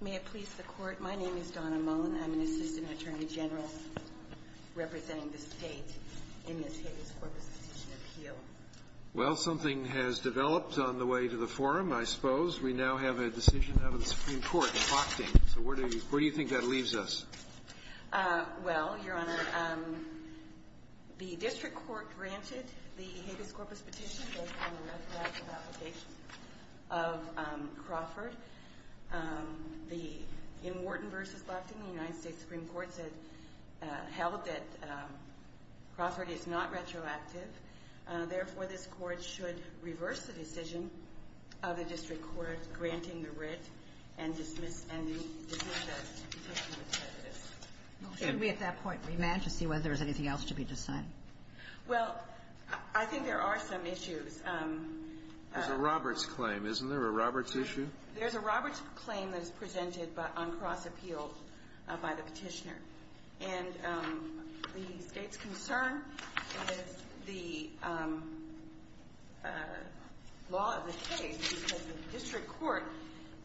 May it please the Court, my name is Donna Mullin. I'm an assistant attorney general representing the state in this Habeas Corpus decision appeal. Well, something has developed on the way to the forum, I suppose. We now have a decision out of the Supreme Court in Loctane. So where do you think that leaves us? Well, Your Honor, the district court granted the Habeas Corpus petition based on the retroactive application of Crawford. In Wharton v. Loctane, the United States Supreme Court said, held that Crawford is not retroactive. Therefore, this court should reverse the decision of the district court granting the writ and dismiss the petition with prejudice. Should we at that point remand to see whether there's anything else to be decided? Well, I think there are some issues. There's a Roberts claim, isn't there, a Roberts issue? There's a Roberts claim that is presented on cross appeal by the petitioner. And the state's concern is the law of the case, because the district court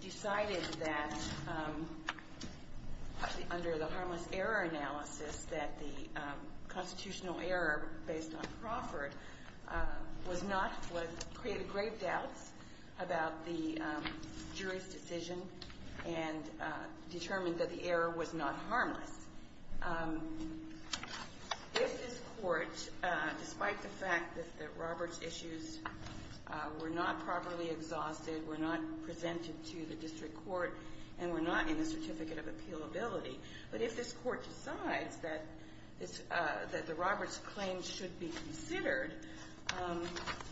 decided that, under the harmless error analysis, that the constitutional error based on Crawford was not, created grave doubts about the jury's decision and determined that the error was not harmless. If this court, despite the fact that Roberts' issues were not properly exhausted, were not presented to the district court, and were not in the certificate of appealability, but if this court decides that the Roberts claim should be considered,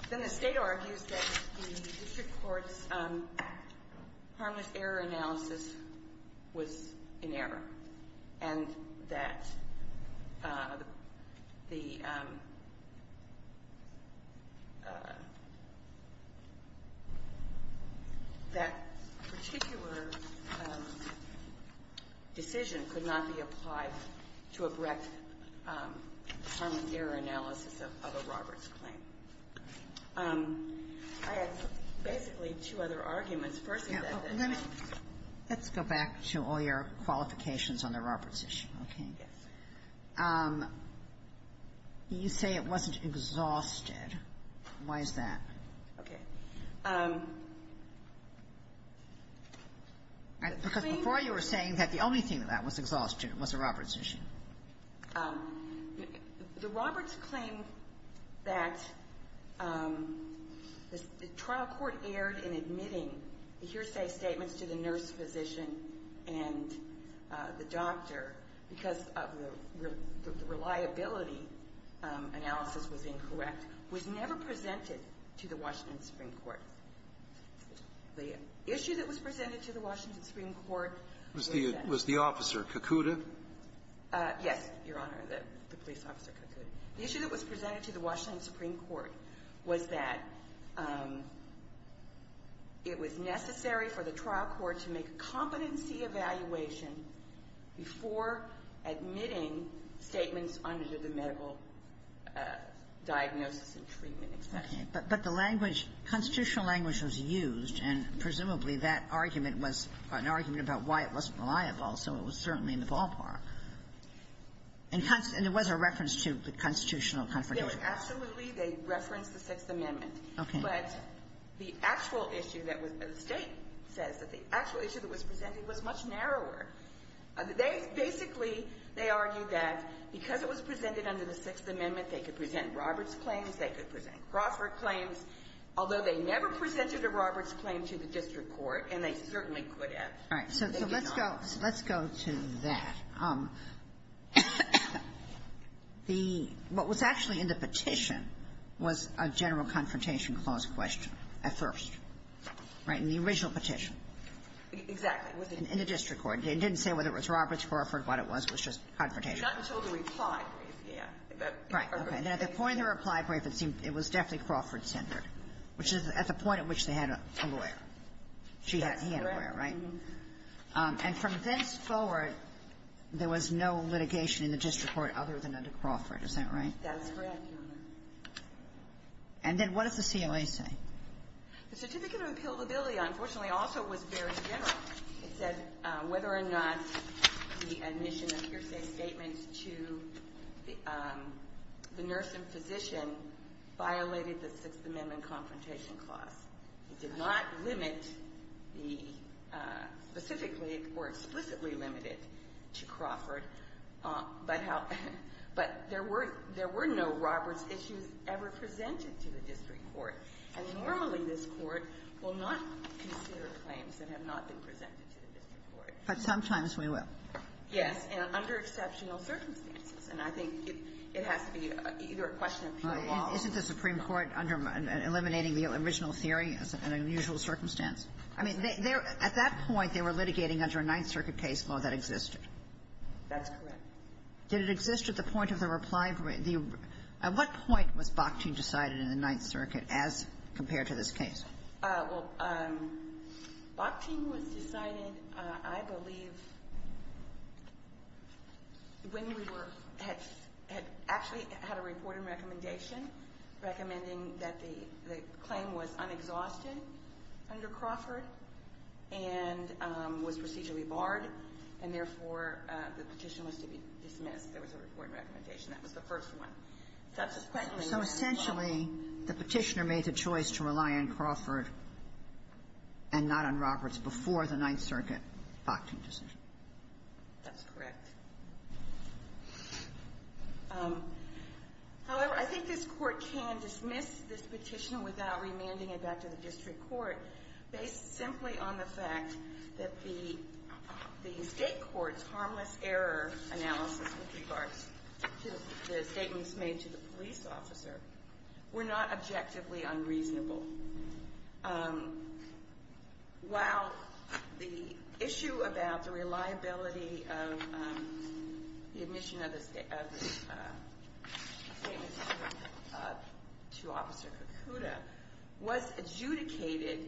then the state argues that the district court's harmless error analysis was in error, and that the particular decision could not be applied to a correct harmless error analysis of a Roberts claim. I have basically two other arguments. First is that the law of the case. Let's go back to all your qualifications on the Roberts issue, okay? Yes. You say it wasn't exhausted. Why is that? Okay. Because before you were saying that the only thing that was exhausted was the Roberts issue. The Roberts claim that the trial court erred in admitting hearsay statements to the nurse physician and the doctor because of the reliability analysis was incorrect was never presented to the Washington Supreme Court. The issue that was presented to the Washington Supreme Court was that ---- Was the officer, Kakuta? Yes, Your Honor, the police officer, Kakuta. The issue that was presented to the Washington Supreme Court was that it was necessary for the trial court to make a competency evaluation before admitting statements under the medical diagnosis and treatment. Okay. But the language, constitutional language was used, and presumably that argument was an argument about why it wasn't reliable, so it was certainly in the ballpark. And there was a reference to the constitutional confidentiality. Absolutely. They referenced the Sixth Amendment. Okay. But the actual issue that was ---- the State says that the actual issue that was presented was much narrower. They basically, they argued that because it was presented under the Sixth Amendment, they could present Roberts claims, they could present Crawford claims, although they never presented a Roberts claim to the district court, and they certainly could have. All right. So let's go to that. The ---- what was actually in the petition was a general confrontation clause question at first, right, in the original petition. Exactly. In the district court. It didn't say whether it was Roberts, Crawford, what it was. It was just confrontation. Not until the reply brief, yeah. Right. Okay. And at the point of the reply brief, it seemed it was definitely Crawford-centered, which is at the point at which they had a lawyer. That's correct. He had a lawyer, right? And from thenceforward, there was no litigation in the district court other than under Crawford. Is that right? That's correct. And then what does the COA say? The certificate of appealability, unfortunately, also was very general. It said whether or not the admission of hearsay statements to the nurse and physician violated the Sixth Amendment confrontation clause. It did not limit the specifically or explicitly limit it to Crawford, but there were no Roberts issues ever presented to the district court. And normally, this Court will not consider claims that have not been presented to the district court. But sometimes we will. Yes. And under exceptional circumstances. And I think it has to be either a question of pure law. Isn't the Supreme Court eliminating the original theory as an unusual circumstance? I mean, at that point, they were litigating under a Ninth Circuit case law that existed. That's correct. Did it exist at the point of the reply brief? At what point was Bakhtin decided in the Ninth Circuit as compared to this case? Well, Bakhtin was decided, I believe, when we were at actually had a reported recommendation recommending that the claim was unexhausted under Crawford and was procedurally barred, and therefore, the petition was to be dismissed. There was a reported recommendation. That was the first one. Subsequently. So essentially, the petitioner made the choice to rely on Crawford and not on Roberts before the Ninth Circuit Bakhtin decision. That's correct. However, I think this Court can dismiss this petition without remanding it back to the district court based simply on the fact that the State court's harmless error analysis with regards to the statements made to the police officer were not objectively unreasonable. While the issue about the reliability of the admission of the statements to Officer Kokuda was adjudicated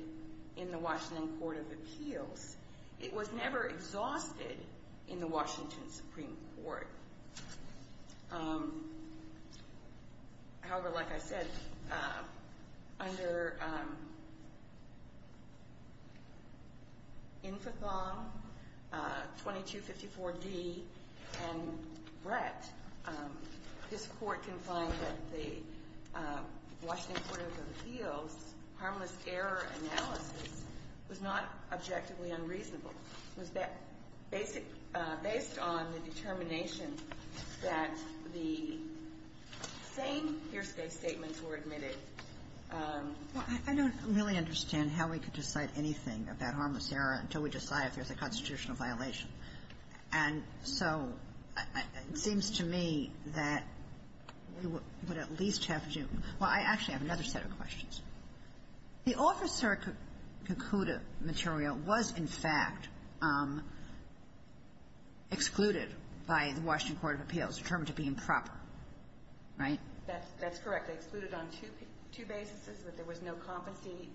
in the Washington Court of Appeals, it was never exhausted in the Washington Supreme Court. However, like I said, under Infothong 2254D and Brett, this Court can find that the Washington Court of Appeals harmless error analysis was not objectively unreasonable. It was based on the determination that the same hearsay statements were admitted. Well, I don't really understand how we could decide anything about harmless error until we decide if there's a constitutional violation. And so it seems to me that we would at least have to do – well, I actually have another set of questions. The Officer Kokuda material was, in fact, excluded by the Washington Court of Appeals, determined to be improper, right? That's correct. It was excluded on two bases, that there was no competency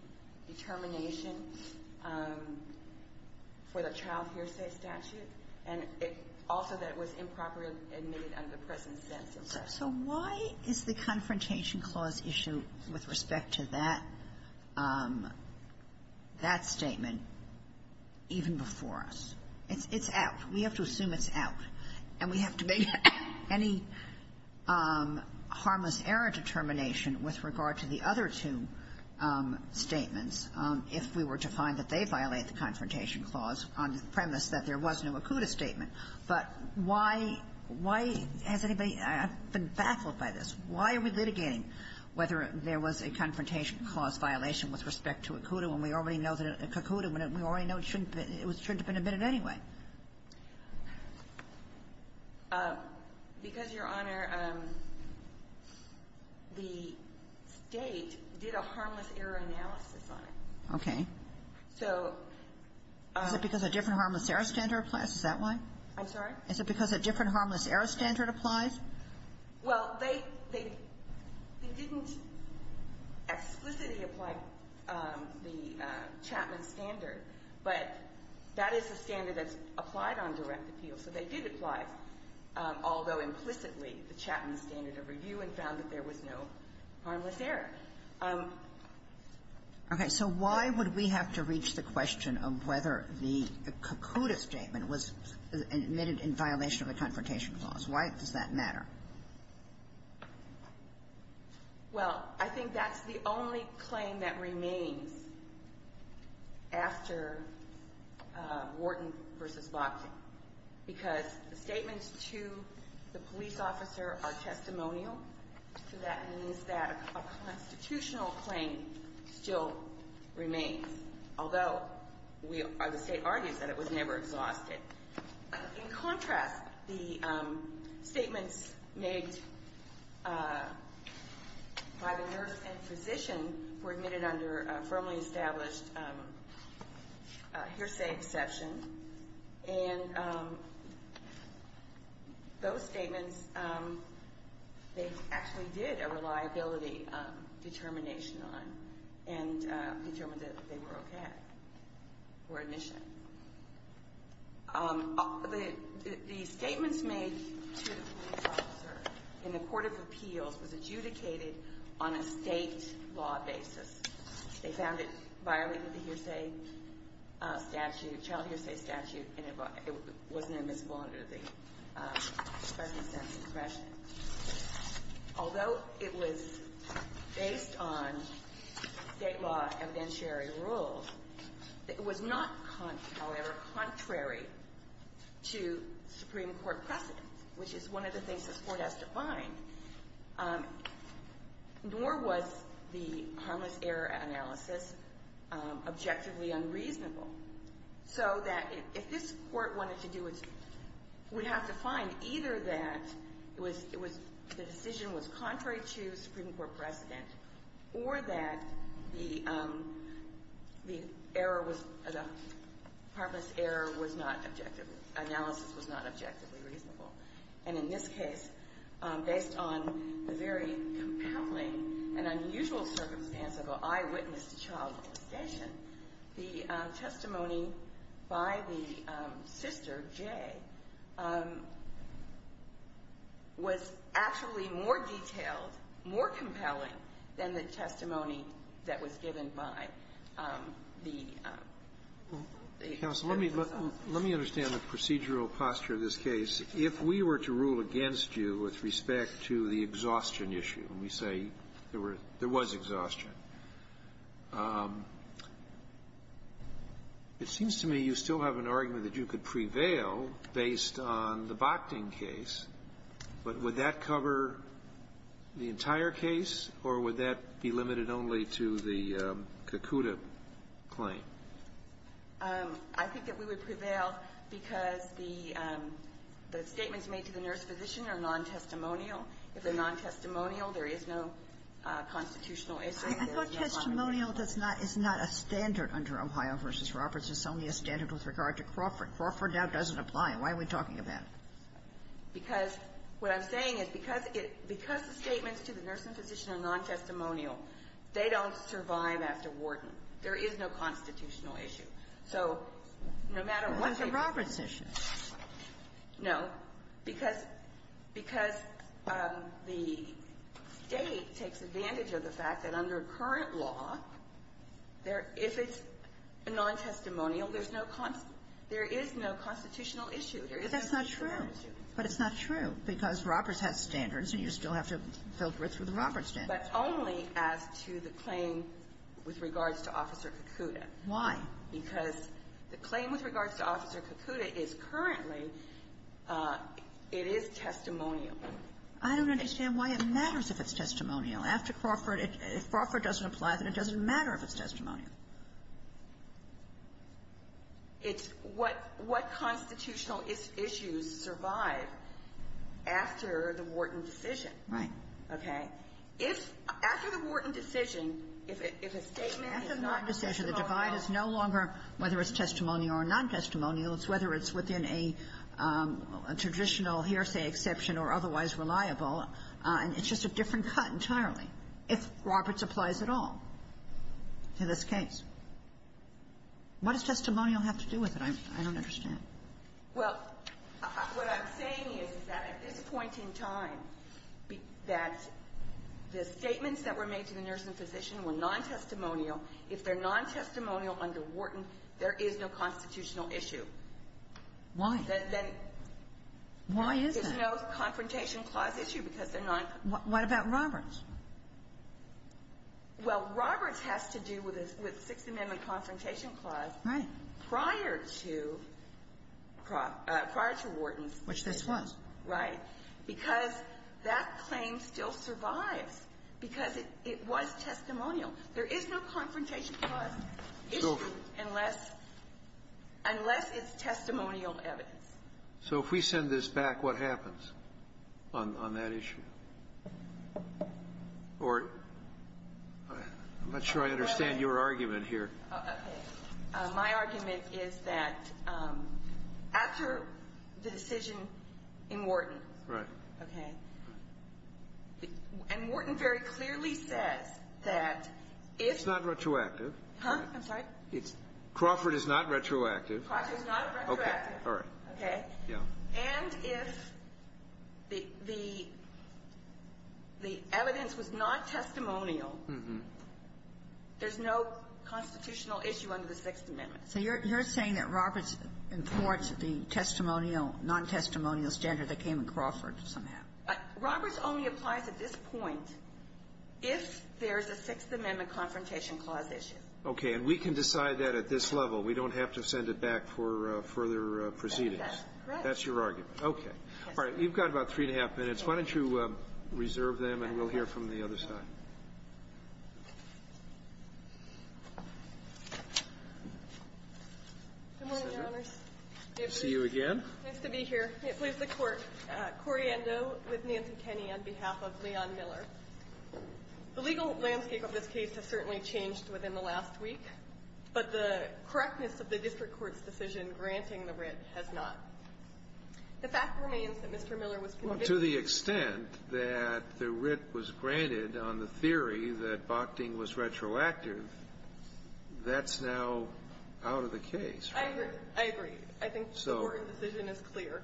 determination for the child hearsay statute, and also that it was improperly admitted under the present sentence. So why is the Confrontation Clause issue with respect to that statement even before us? It's out. We have to assume it's out, and we have to make any harmless error determination with regard to the other two statements if we were to find that they violate the Confrontation Clause on the premise that there was no Kokuda statement. But why – why has anybody – I've been baffled by this. Why are we litigating whether there was a Confrontation Clause violation with respect to a Kokuda when we already know that a Kokuda, when we already know it shouldn't have been – it shouldn't have been admitted anyway? Because, Your Honor, the State did a harmless error analysis on it. Okay. So – I'm sorry? Is it because a different harmless error standard applies? Well, they – they didn't explicitly apply the Chapman standard, but that is a standard that's applied on direct appeal. So they did apply, although implicitly, the Chapman standard of review and found that there was no harmless error. Okay. So why would we have to reach the question of whether the Kokuda statement was admitted in violation of a Confrontation Clause? Why does that matter? Well, I think that's the only claim that remains after Wharton v. Boxing, because the statements to the police officer are testimonial, so that means that a constitutional claim still remains, although we – the State argues that it was never exhausted. In contrast, the statements made by the nurse and physician were admitted under a firmly established hearsay exception. And those statements, they actually did a reliability determination on and determined that they were okay for admission. The statements made to the police officer in the Court of Appeals was adjudicated on a State law basis. They found it violated the hearsay statute, child hearsay statute, and it wasn't admissible under the special sense expression. Although it was based on State law evidentiary rules, it was not, however, contrary to Supreme Court precedent, which is one of the things this Court has to find. Nor was the harmless error analysis objectively unreasonable, so that if this Court wanted to do its – would have to find either that it was – the decision was contrary to Supreme Court precedent or that the error was – the harmless error was not objectively – analysis was not objectively reasonable. And in this case, based on the very compelling and unusual circumstance of an eyewitness to child molestation, the testimony by the sister, Jay, was actually more detailed, more compelling than the testimony that was given by the counsel. Sotomayor, let me understand the procedural posture of this case. If we were to rule against you with respect to the exhaustion issue, and we say there were – there was exhaustion, it seems to me you still have an argument that you could prevail based on the Bochting case, but would that cover the entire case, or would that be limited only to the Kakuta claim? I think that we would prevail because the statements made to the nurse physician are nontestimonial. If they're nontestimonial, there is no constitutional issue. I thought testimonial does not – is not a standard under Ohio v. Roberts. It's only a standard with regard to Crawford. Crawford now doesn't apply. Why are we talking about it? Because what I'm saying is because it – because the statements to the nurse and physician are nontestimonial, they don't survive after Wharton. There is no constitutional issue. So no matter what they – It was a Roberts issue. No. Because – because the State takes advantage of the fact that under current law, there – if it's nontestimonial, there's no – there is no constitutional issue. There is no constitutional issue. But that's not true. But it's not true, because Roberts has standards, and you still have to filter it through the Roberts standards. But only as to the claim with regards to Officer Kakuta. Why? Because the claim with regards to Officer Kakuta is currently – it is testimonial. I don't understand why it matters if it's testimonial. After Crawford, if Crawford doesn't apply, then it doesn't matter if it's testimonial. It's what – what constitutional issues survive after the Wharton decision. Right. Okay. If – after the Wharton decision, if a statement is nontestimonial – After the Wharton decision, the divide is no longer whether it's testimonial or nontestimonial. It's whether it's within a traditional hearsay exception or otherwise reliable. It's just a different cut entirely, if Roberts applies at all to this case. What does testimonial have to do with it? I don't understand. Well, what I'm saying is, is that at this point in time, that the statements that were made to the nurse and physician were nontestimonial. If they're nontestimonial under Wharton, there is no constitutional issue. Why? Then – Why is that? There's no Confrontation Clause issue because they're nontestimonial. What about Roberts? Well, Roberts has to do with the Sixth Amendment Confrontation Clause. Right. Prior to – prior to Wharton's – Which this was. Right. Because that claim still survives because it was testimonial. There is no Confrontation Clause issue unless – unless it's testimonial evidence. So if we send this back, what happens on that issue? Or I'm not sure I understand your argument here. Okay. My argument is that after the decision in Wharton – Right. Okay. And Wharton very clearly says that if – It's not retroactive. Huh? I'm sorry? Crawford is not retroactive. Crawford is not retroactive. Okay. All right. Okay? Yeah. And if the – the evidence was not testimonial, there's no constitutional issue under the Sixth Amendment. So you're – you're saying that Roberts imports the testimonial, nontestimonial standard that came in Crawford somehow? Roberts only applies at this point if there's a Sixth Amendment Confrontation Clause issue. Okay. And we can decide that at this level. We don't have to send it back for further proceedings. That's correct. Okay. All right. You've got about three and a half minutes. Why don't you reserve them, and we'll hear from the other side. Good morning, Your Honors. Good to see you again. Nice to be here. Let me please the Court. Corriendo with Nancy Kenney on behalf of Leon Miller. The legal landscape of this case has certainly changed within the last week, but the correctness of the district court's decision granting the writ has not. The fact remains that Mr. Miller was convicted. Well, to the extent that the writ was granted on the theory that Bochting was retroactive, that's now out of the case, right? I agree. I agree. I think the court decision is clear.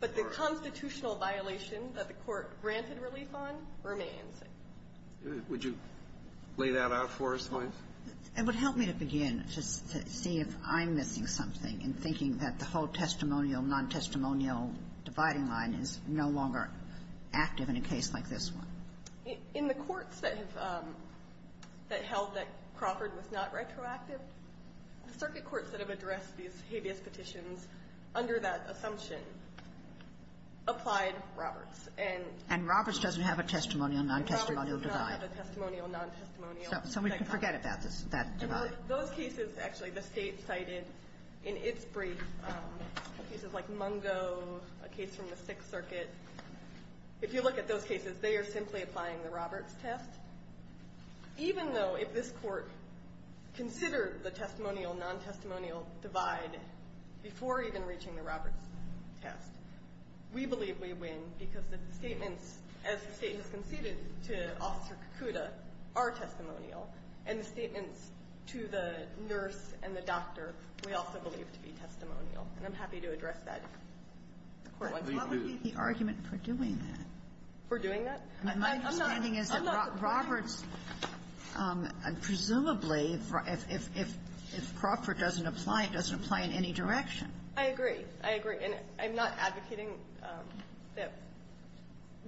But the constitutional violation that the court granted relief on remains. Would you lay that out for us, please? It would help me to begin just to see if I'm missing something in thinking that the whole testimonial, non-testimonial dividing line is no longer active in a case like this one. In the courts that have held that Crawford was not retroactive, the circuit courts that have addressed these habeas petitions under that assumption applied Roberts. And Roberts doesn't have a testimonial, non-testimonial divide. Roberts does not have a testimonial, non-testimonial divide. So we can forget about that divide. Those cases, actually, the state cited in its brief, cases like Mungo, a case from the Sixth Circuit, if you look at those cases, they are simply applying the Roberts test. Even though if this court considered the testimonial, non-testimonial divide before even reaching the Roberts test, we believe we win because the statements, as the state has conceded to Officer Kakuta, are testimonial. And the statements to the nurse and the doctor we also believe to be testimonial. And I'm happy to address that if the Court wants to. Sotomayor, what would be the argument for doing that? For doing that? I'm not complaining. My understanding is that Roberts, presumably, if Crawford doesn't apply, it doesn't apply in any direction. I agree. I agree. I'm not advocating that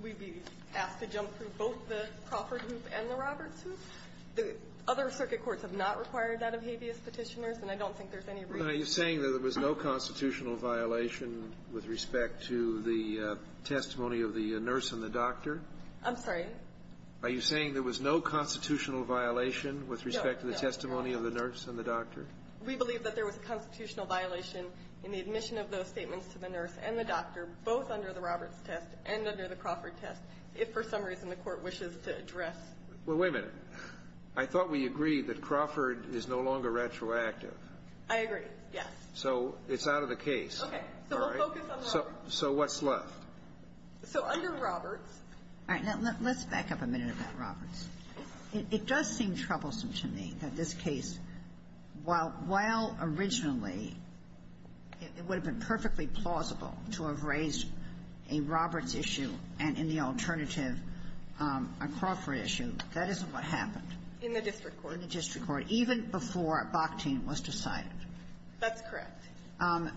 we be asked to jump through both the Crawford hoop and the Crawford test. Other circuit courts have not required that of habeas petitioners, and I don't think there's any reason. Are you saying that there was no constitutional violation with respect to the testimony of the nurse and the doctor? I'm sorry? Are you saying there was no constitutional violation with respect to the testimony of the nurse and the doctor? We believe that there was a constitutional violation in the admission of those statements to the nurse and the doctor, both under the Roberts test and under the Crawford test, if for some reason the Court wishes to address. Well, wait a minute. I thought we agreed that Crawford is no longer retroactive. I agree. Yes. So it's out of the case. Okay. All right. So we'll focus on Roberts. So what's left? So under Roberts. All right. Now, let's back up a minute about Roberts. It does seem troublesome to me that this case, while originally it would have been perfectly plausible to have raised a Roberts issue and in the alternative a Crawford issue, that isn't what happened. In the district court. In the district court, even before Bakhtin was decided. That's correct.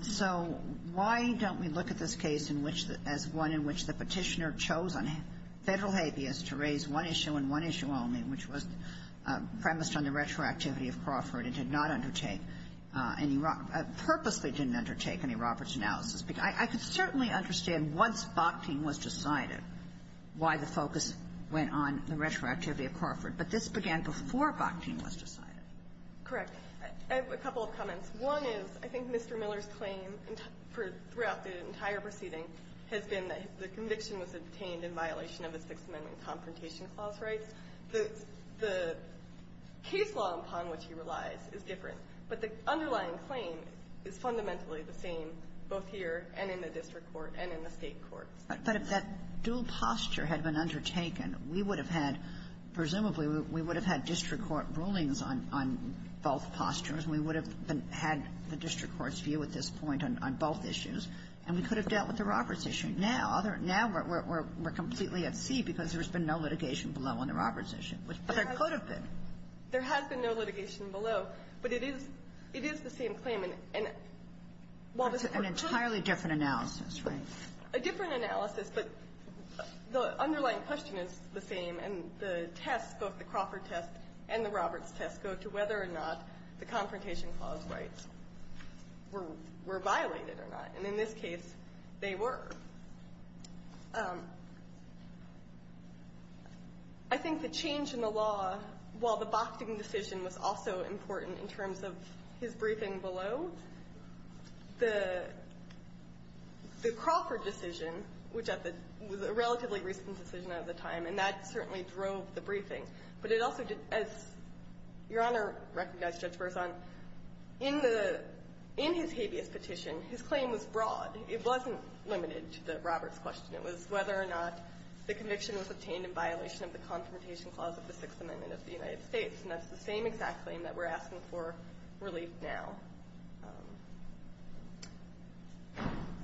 So why don't we look at this case in which the – as one in which the Petitioner chose on federal habeas to raise one issue and one issue only, which was premised on the retroactivity of Crawford and did not undertake any – purposely didn't undertake any Roberts analysis? I could certainly understand, once Bakhtin was decided, why the focus went on the retroactivity of Crawford, but this began before Bakhtin was decided. Correct. I have a couple of comments. One is, I think Mr. Miller's claim throughout the entire proceeding has been that the conviction was obtained in violation of the Sixth Amendment Confrontation Clause rights. The case law upon which he relies is different, but the underlying claim is fundamentally the same, both here and in the district court and in the State courts. But if that dual posture had been undertaken, we would have had – presumably we would have had district court rulings on – on both postures. We would have been – had the district court's view at this point on both issues, and we could have dealt with the Roberts issue. Now – now we're completely at sea because there's been no litigation below on the Roberts issue, but there could have been. There has been no litigation below, but it is the same claim. And while the – That's an entirely different analysis, right? A different analysis, but the underlying question is the same, and the test, both the Crawford test and the Roberts test, go to whether or not the Confrontation Clause rights were – were violated or not. And in this case, they were. I think the change in the law, while the Bakhtin decision was also important in terms of his briefing below, the – the Crawford decision, which at the – was a relatively recent decision at the time, and that certainly drove the briefing, but it also did – as Your Honor recognized, Judge Berzon, in the – in his habeas petition, his claim was broad. It wasn't limited to the Roberts question. It was whether or not the conviction was obtained in violation of the Confrontation Clause of the Sixth Amendment of the United States. And that's the same exact claim that we're asking for relief now.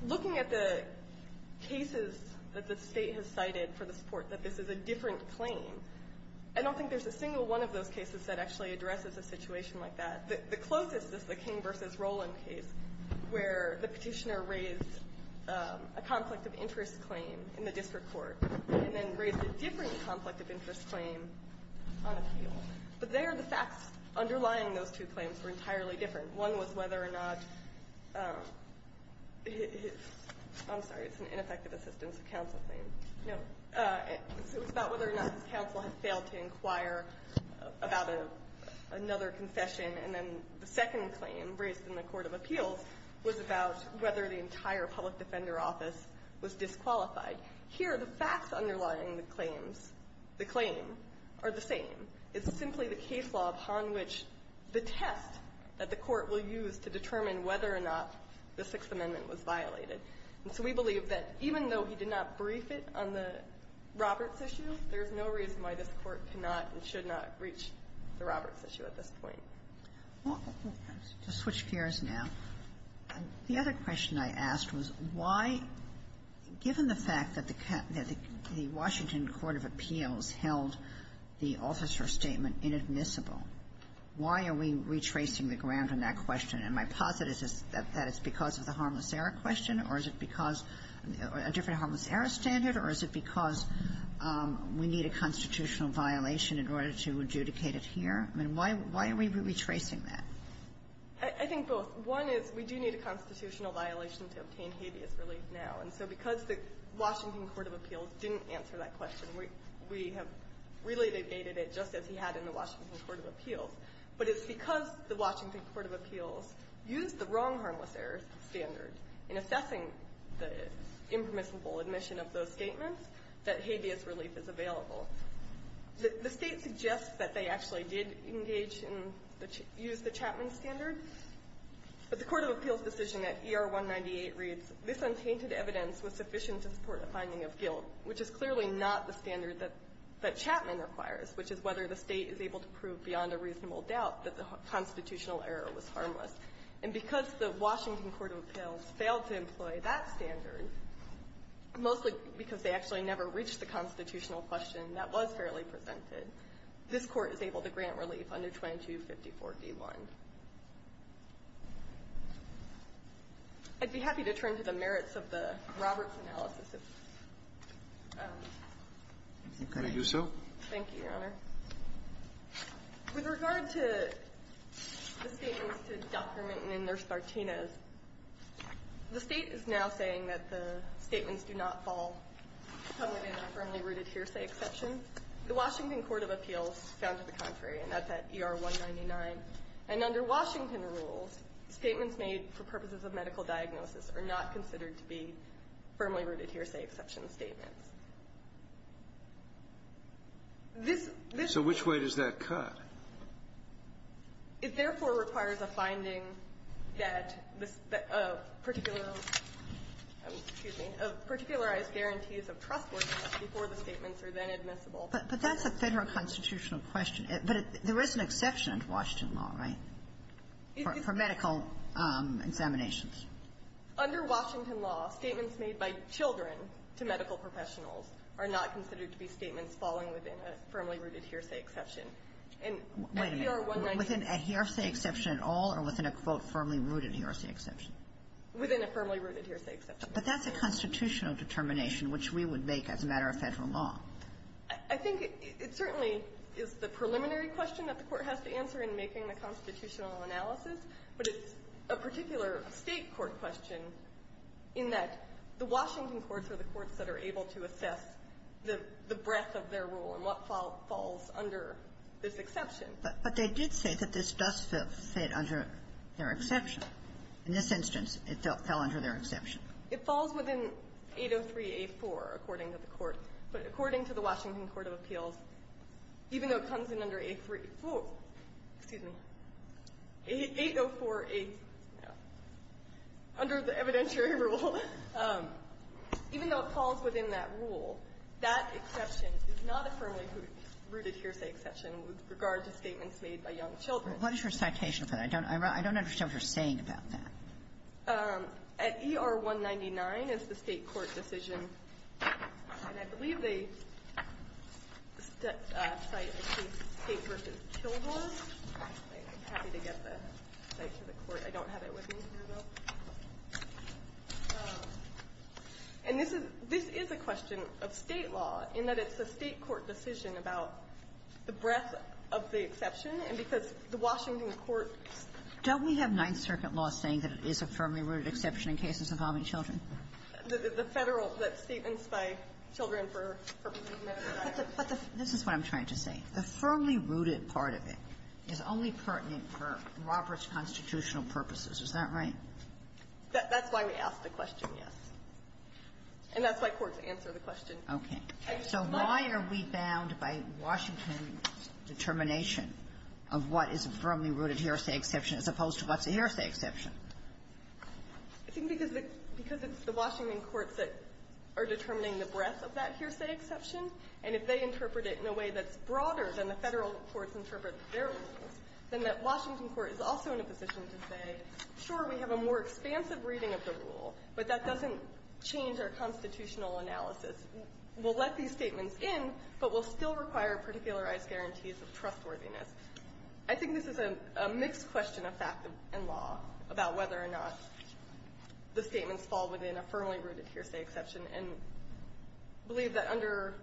Looking at the cases that the State has cited for the support that this is a different claim, I don't think there's a single one of those cases that actually addresses a situation like that. The closest is the King v. Roland case where the petitioner raised a conflict of interest claim in the district court and then raised a different conflict of interest claim on appeal. But there, the facts underlying those two claims were entirely different. One was whether or not his – I'm sorry, it's an ineffective assistance of counsel claim. No. It was about whether or not his counsel had failed to inquire about another confession, and then the second claim raised in the Court of Appeals was about whether the entire public defender office was disqualified. Here, the facts underlying the claims – the claim are the same. It's simply the case law upon which the test that the Court will use to determine whether or not the Sixth Amendment was violated. And so we believe that even though he did not brief it on the Roberts issue, there is no reason why this Court cannot and should not reach the Roberts issue at this point. Sotomayor, to switch gears now, the other question I asked was why, given the fact that the Washington Court of Appeals held the officer statement inadmissible, why are we retracing the ground on that question? And my posit is that it's because of the Harmless Error question, or is it because – a different Harmless Error standard, or is it because we need a constitutional violation in order to adjudicate it here? I mean, why are we retracing that? I think both. One is we do need a constitutional violation to obtain habeas relief now. And so because the Washington Court of Appeals didn't answer that question, we have really negated it just as he had in the Washington Court of Appeals. But it's because the Washington Court of Appeals used the wrong Harmless Error standard in assessing the impermissible admission of those statements that habeas relief is available. The State suggests that they actually did engage in the – use the Chapman standard, but the Court of Appeals decision at ER 198 reads, This untainted evidence was sufficient to support a finding of guilt, which is clearly not the standard that Chapman requires, which is whether the State is able to prove beyond a reasonable doubt that the constitutional error was harmless. And because the Washington Court of Appeals failed to employ that standard, mostly because they actually never reached the constitutional question that was fairly presented, this Court is able to grant relief under 2254d1. I'd be happy to turn to the merits of the Roberts analysis, if you can. Can I do so? Thank you, Your Honor. With regard to the statements to Dr. Minton and Nurse Martinez, the State is now saying that the statements do not fall within a firmly-rooted hearsay exception. The Washington Court of Appeals found to the contrary, and that's at ER 199. And under Washington rules, statements made for purposes of medical diagnosis are not considered to be firmly-rooted hearsay exception statements. This – this – So which way does that cut? It therefore requires a finding that a particular – excuse me – of particularized guarantees of trustworthiness before the statements are then admissible. But that's a Federal constitutional question. But there is an exception to Washington law, right, for medical examinations? Under Washington law, statements made by children to medical professionals are not considered to be statements falling within a firmly-rooted hearsay exception. And at ER 199 – Wait a minute. Within a hearsay exception at all or within a, quote, firmly-rooted hearsay exception? Within a firmly-rooted hearsay exception. But that's a constitutional determination, which we would make as a matter of Federal law. I think it certainly is the preliminary question that the Court has to answer in making the constitutional analysis. But it's a particular State court question in that the Washington courts are the courts that are able to assess the breadth of their rule and what falls under this exception. But they did say that this does fit under their exception. In this instance, it fell under their exception. It falls within 803a4, according to the Court. But according to the Washington Court of Appeals, even though it comes in under a3 – excuse me, 804a – under the evidentiary rule, even though it falls within that rule, that exception is not a firmly-rooted hearsay exception with regard to statements made by young children. Kagan. What is your citation for that? I don't understand what you're saying about that. At ER 199 is the State court decision. And I believe they cite a case, State v. Kilgore. I'm happy to get the site to the Court. I don't have it with me here, though. And this is – this is a question of State law, in that it's a State court decision about the breadth of the exception. And because the Washington courts – Don't we have Ninth Circuit law saying that it is a firmly-rooted exception in cases involving children? The Federal – that statements by children for purposes of medical diagnosis. But the – this is what I'm trying to say. The firmly-rooted part of it is only pertinent for Roberts constitutional purposes. Is that right? That's why we ask the question, yes. And that's why courts answer the question. Okay. So why are we bound by Washington's determination of what is a firmly-rooted hearsay exception as opposed to what's a hearsay exception? I think because it's the Washington courts that are determining the breadth of that hearsay exception. And if they interpret it in a way that's broader than the Federal courts interpret their rules, then that Washington court is also in a position to say, sure, we have a more expansive reading of the rule, but that doesn't change our constitutional analysis. We'll let these statements in, but we'll still require particularized guarantees of trustworthiness. I think this is a mixed question of fact and law about whether or not the statements fall within a firmly-rooted hearsay exception. And I believe that under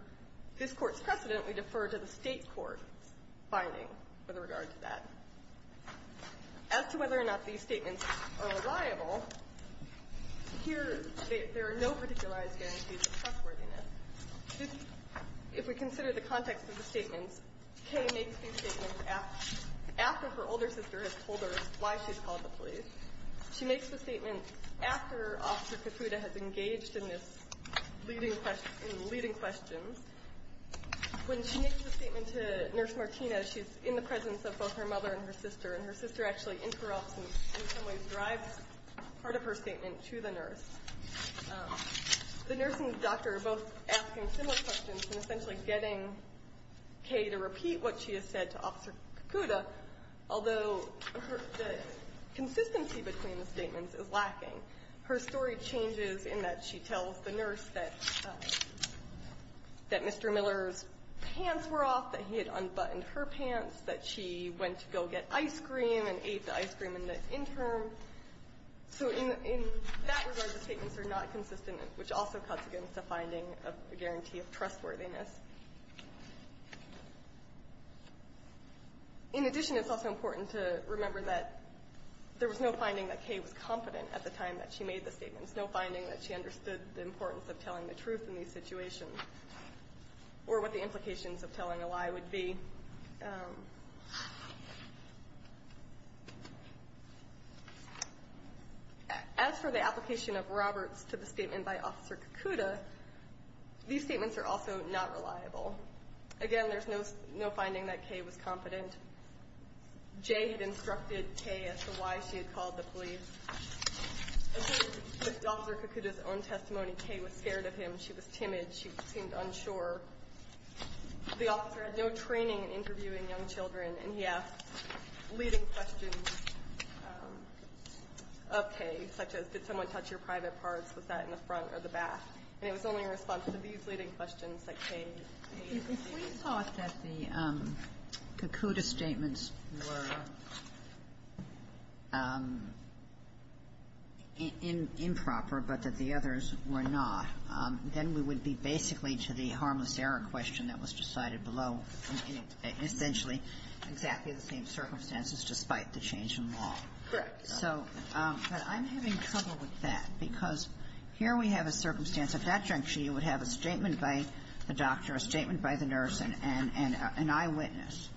this Court's precedent, we defer to the State court's finding with regard to that. As to whether or not these statements are liable, here, there are no particularized guarantees of trustworthiness. If we consider the context of the statements, Kaye makes these statements after her older sister has told her why she's called the police. She makes the statement after Officer Kakuta has engaged in this leading questions. When she makes the statement to Nurse Martina, she's in the presence of both her mother and her sister, and her sister actually interrupts and in some ways drives part of her statement to the nurse. The nurse and the doctor are both asking similar questions and essentially getting Kaye to repeat what she has said to Officer Kakuta, although the consistency between the statements is lacking. Her story changes in that she tells the nurse that Mr. Miller's pants were off, that he had unbuttoned her pants, that she went to go get ice cream and ate the ice cream in the interim. So in that regard, the statements are not consistent, which also cuts against the finding of a guarantee of trustworthiness. In addition, it's also important to remember that there was no finding that Kaye was confident at the time that she made the statements, no finding that she understood the importance of telling the truth in these situations or what the implications of telling a lie would be. As for the application of Roberts to the statement by Officer Kakuta, these statements are also not reliable. Again, there's no finding that Kaye was confident. Jay had instructed Kaye as to why she had called the police. In Officer Kakuta's own testimony, Kaye was scared of him. She was timid. She seemed unsure. The officer had no training in interviewing young children, and he asked leading questions of Kaye, such as, did someone touch your private parts? Was that in the front or the back? And it was only a response to these leading questions that Kaye made. Kagan. Ginsburg. If we thought that the Kakuta statements were improper but that the others were not, then we would be basically to the harmless error question that was decided below, essentially exactly the same circumstances despite the change in law. So I'm having trouble with that because here we have a circumstance. At that juncture, you would have a statement by the doctor, a statement by the nurse, and an eyewitness.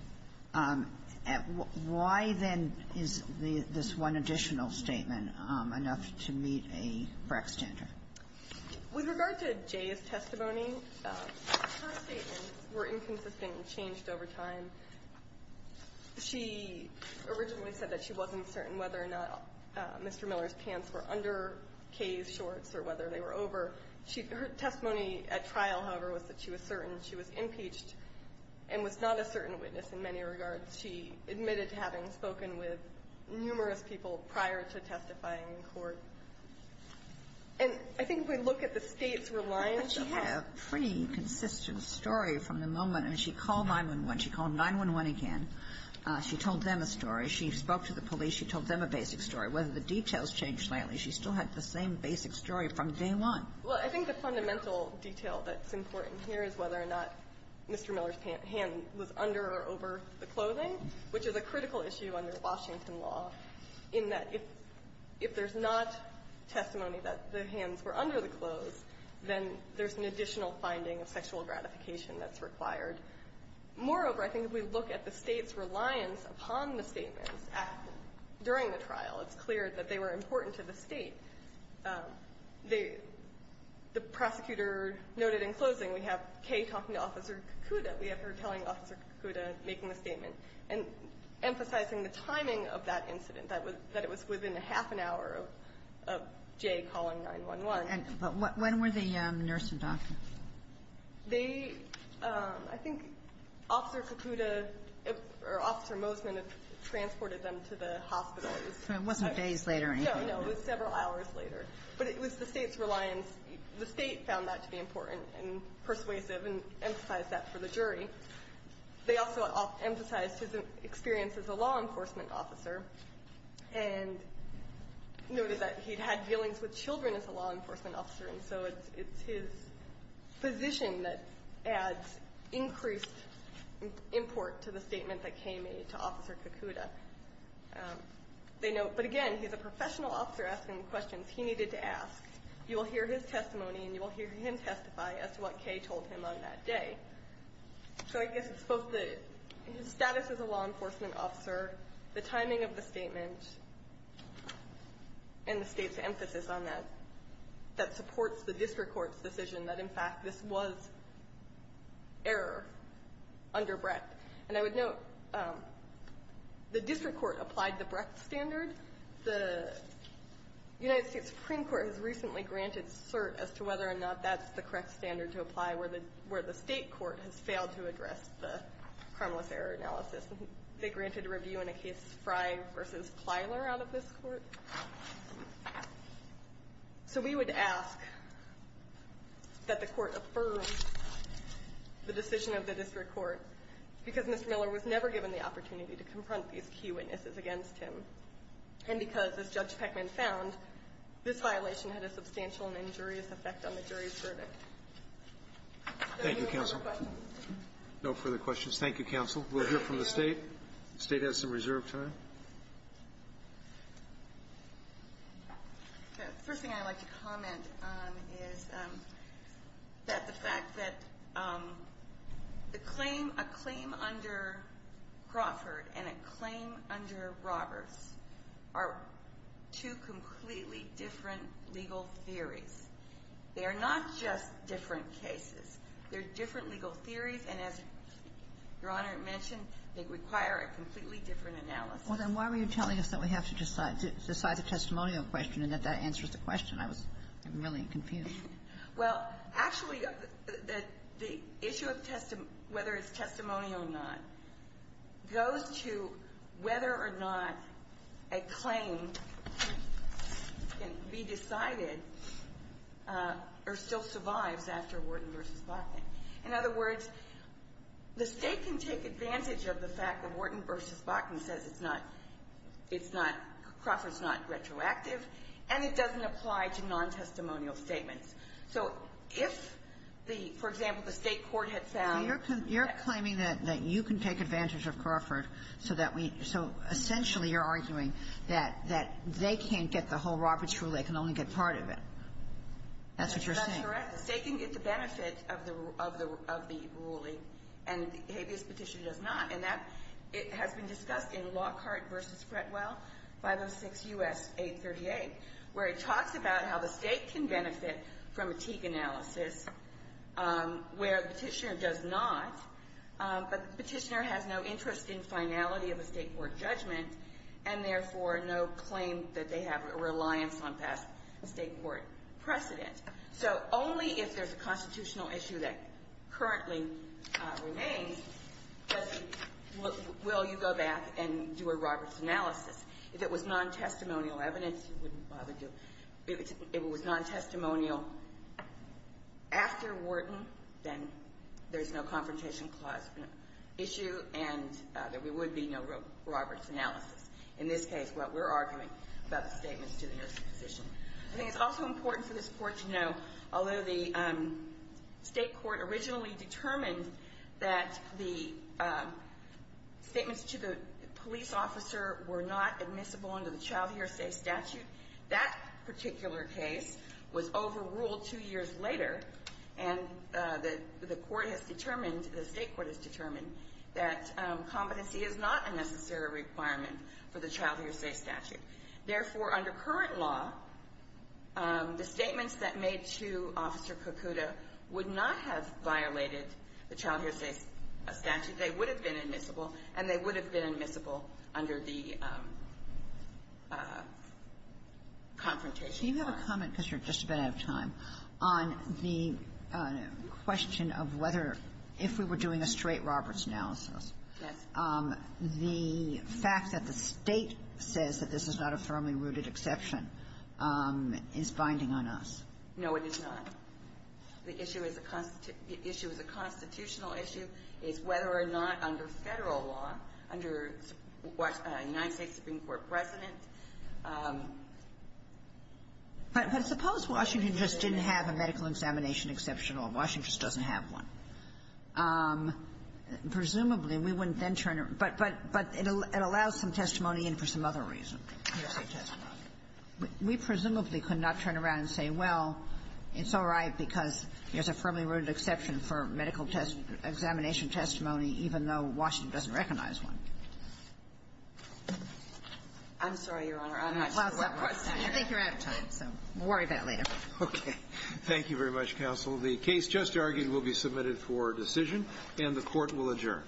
Why, then, is this one additional statement enough to meet a BRAC standard? With regard to Jay's testimony, her statements were inconsistent and changed over time. She originally said that she wasn't certain whether or not Mr. Miller's pants were under Kaye's shorts or whether they were over. Her testimony at trial, however, was that she was certain she was impeached and was not a certain witness in many regards. She admitted to having spoken with numerous people prior to testifying in court. And I think if we look at the States' reliance on that. Kagan had a pretty consistent story from the moment, and she called 9-1-1. She called 9-1-1 again. She told them a story. She spoke to the police. She told them a basic story. Whether the details changed lately, she still had the same basic story from day one. Well, I think the fundamental detail that's important here is whether or not Mr. Miller's hand was under or over the clothing, which is a critical issue under Washington law, in that if there's not testimony that the hands were under the clothes, then there's an additional finding of sexual gratification that's required. Moreover, I think if we look at the States' reliance upon the statements during the trial, it's clear that they were important to the State. The prosecutor noted in closing, we have Kaye talking to Officer Kakuda. We have her telling Officer Kakuda, making a statement, and emphasizing the timing of that incident, that it was within a half an hour of Jay calling 9-1-1. But when were the nurse and doctor? They, I think Officer Kakuda or Officer Mosman transported them to the hospital. It wasn't days later or anything. No, no. It was several hours later. But it was the State's reliance. The State found that to be important and persuasive and emphasized that for the jury. They also emphasized his experience as a law enforcement officer and noted that he'd had dealings with children as a law enforcement officer, and so it's his position that adds increased import to the statement that Kaye made to Officer Kakuda. They note, but again, he's a professional officer asking the questions he needed to ask. You will hear his testimony, and you will hear him testify as to what Kaye told him on that day. So I guess it's both his status as a law enforcement officer, the timing of the statement, and the State's emphasis on that, that supports the district court's decision that, in fact, this was error under Brecht. And I would note the district court applied the Brecht standard. The United States Supreme Court has recently granted cert as to whether or not that's the correct standard to apply where the State court has failed to address the harmless error analysis. They granted a review in a case Frey v. Plyler out of this Court. So we would ask that the Court affirm the decision of the district court, because Mr. Miller was never given the opportunity to confront these key witnesses against him, and because, as Judge Peckman found, this violation had a substantial and injurious effect on the jury's verdict. Thank you, Counsel. No further questions. Thank you, Counsel. We'll hear from the State. The State has some reserve time. The first thing I'd like to comment on is that the fact that a claim under Crawford and a claim under Roberts are two completely different legal theories. They are not just different cases. They're different legal theories, and as Your Honor mentioned, they require a completely different analysis. Well, then why were you telling us that we have to decide the testimonial question and that that answers the question? I was really confused. Well, actually, the issue of whether it's testimonial or not goes to whether or not a claim can be decided or still survives after Wharton v. Bachman. In other words, the State can take advantage of the fact that Wharton v. Bachman says it's not – it's not – Crawford's not retroactive, and it doesn't apply to non-testimonial statements. So if the – for example, the State court had found Well, you're claiming that you can take advantage of Crawford so that we – so essentially you're arguing that they can't get the whole Roberts rule. They can only get part of it. That's what you're saying. That's correct. The State can get the benefit of the ruling, and the habeas petition does not. And that has been discussed in Lockhart v. Fretwell, 506 U.S. 838, where it talks about how the State can benefit from a Teague analysis, where the petitioner does not. But the petitioner has no interest in finality of a State court judgment, and therefore no claim that they have a reliance on past State court precedent. So only if there's a constitutional issue that currently remains will you go back and do a Roberts analysis. If it was non-testimonial evidence, you wouldn't bother to – if it was non-testimonial after Wharton, then there's no confrontation clause issue, and there would be no Roberts analysis. In this case, what we're arguing about the statements to the nursing physician. I think it's also important for this Court to know, although the State court originally determined that the statements to the police officer were not admissible under the child hearsay statute, that particular case was overruled two years later, and the court has determined, the State court has determined, that competency is not a necessary requirement for the child hearsay statute. Therefore, under current law, the statements that made to Officer Kokuda would not have violated the child hearsay statute. They would have been admissible, and they would have been admissible under the confrontation clause. Kagan. Do you have a comment, because you're just a bit out of time, on the question of whether, if we were doing a straight Roberts analysis, the fact that the State says that this is not a firmly-rooted exception is binding on us? No, it is not. The issue is a constitutional issue. It's whether or not under Federal law, under United States Supreme Court precedent But suppose Washington just didn't have a medical examination exception, or Washington just doesn't have one. Presumably, we wouldn't then turn it. But it allows some other reason, hearsay testimony. We presumably could not turn around and say, well, it's all right because there's a firmly-rooted exception for medical examination testimony, even though Washington doesn't recognize one. I'm sorry, Your Honor. I'm not sure what my question is. I think you're out of time, so we'll worry about it later. Okay. Thank you very much, counsel. The case just argued will be submitted for decision, and the Court will adjourn.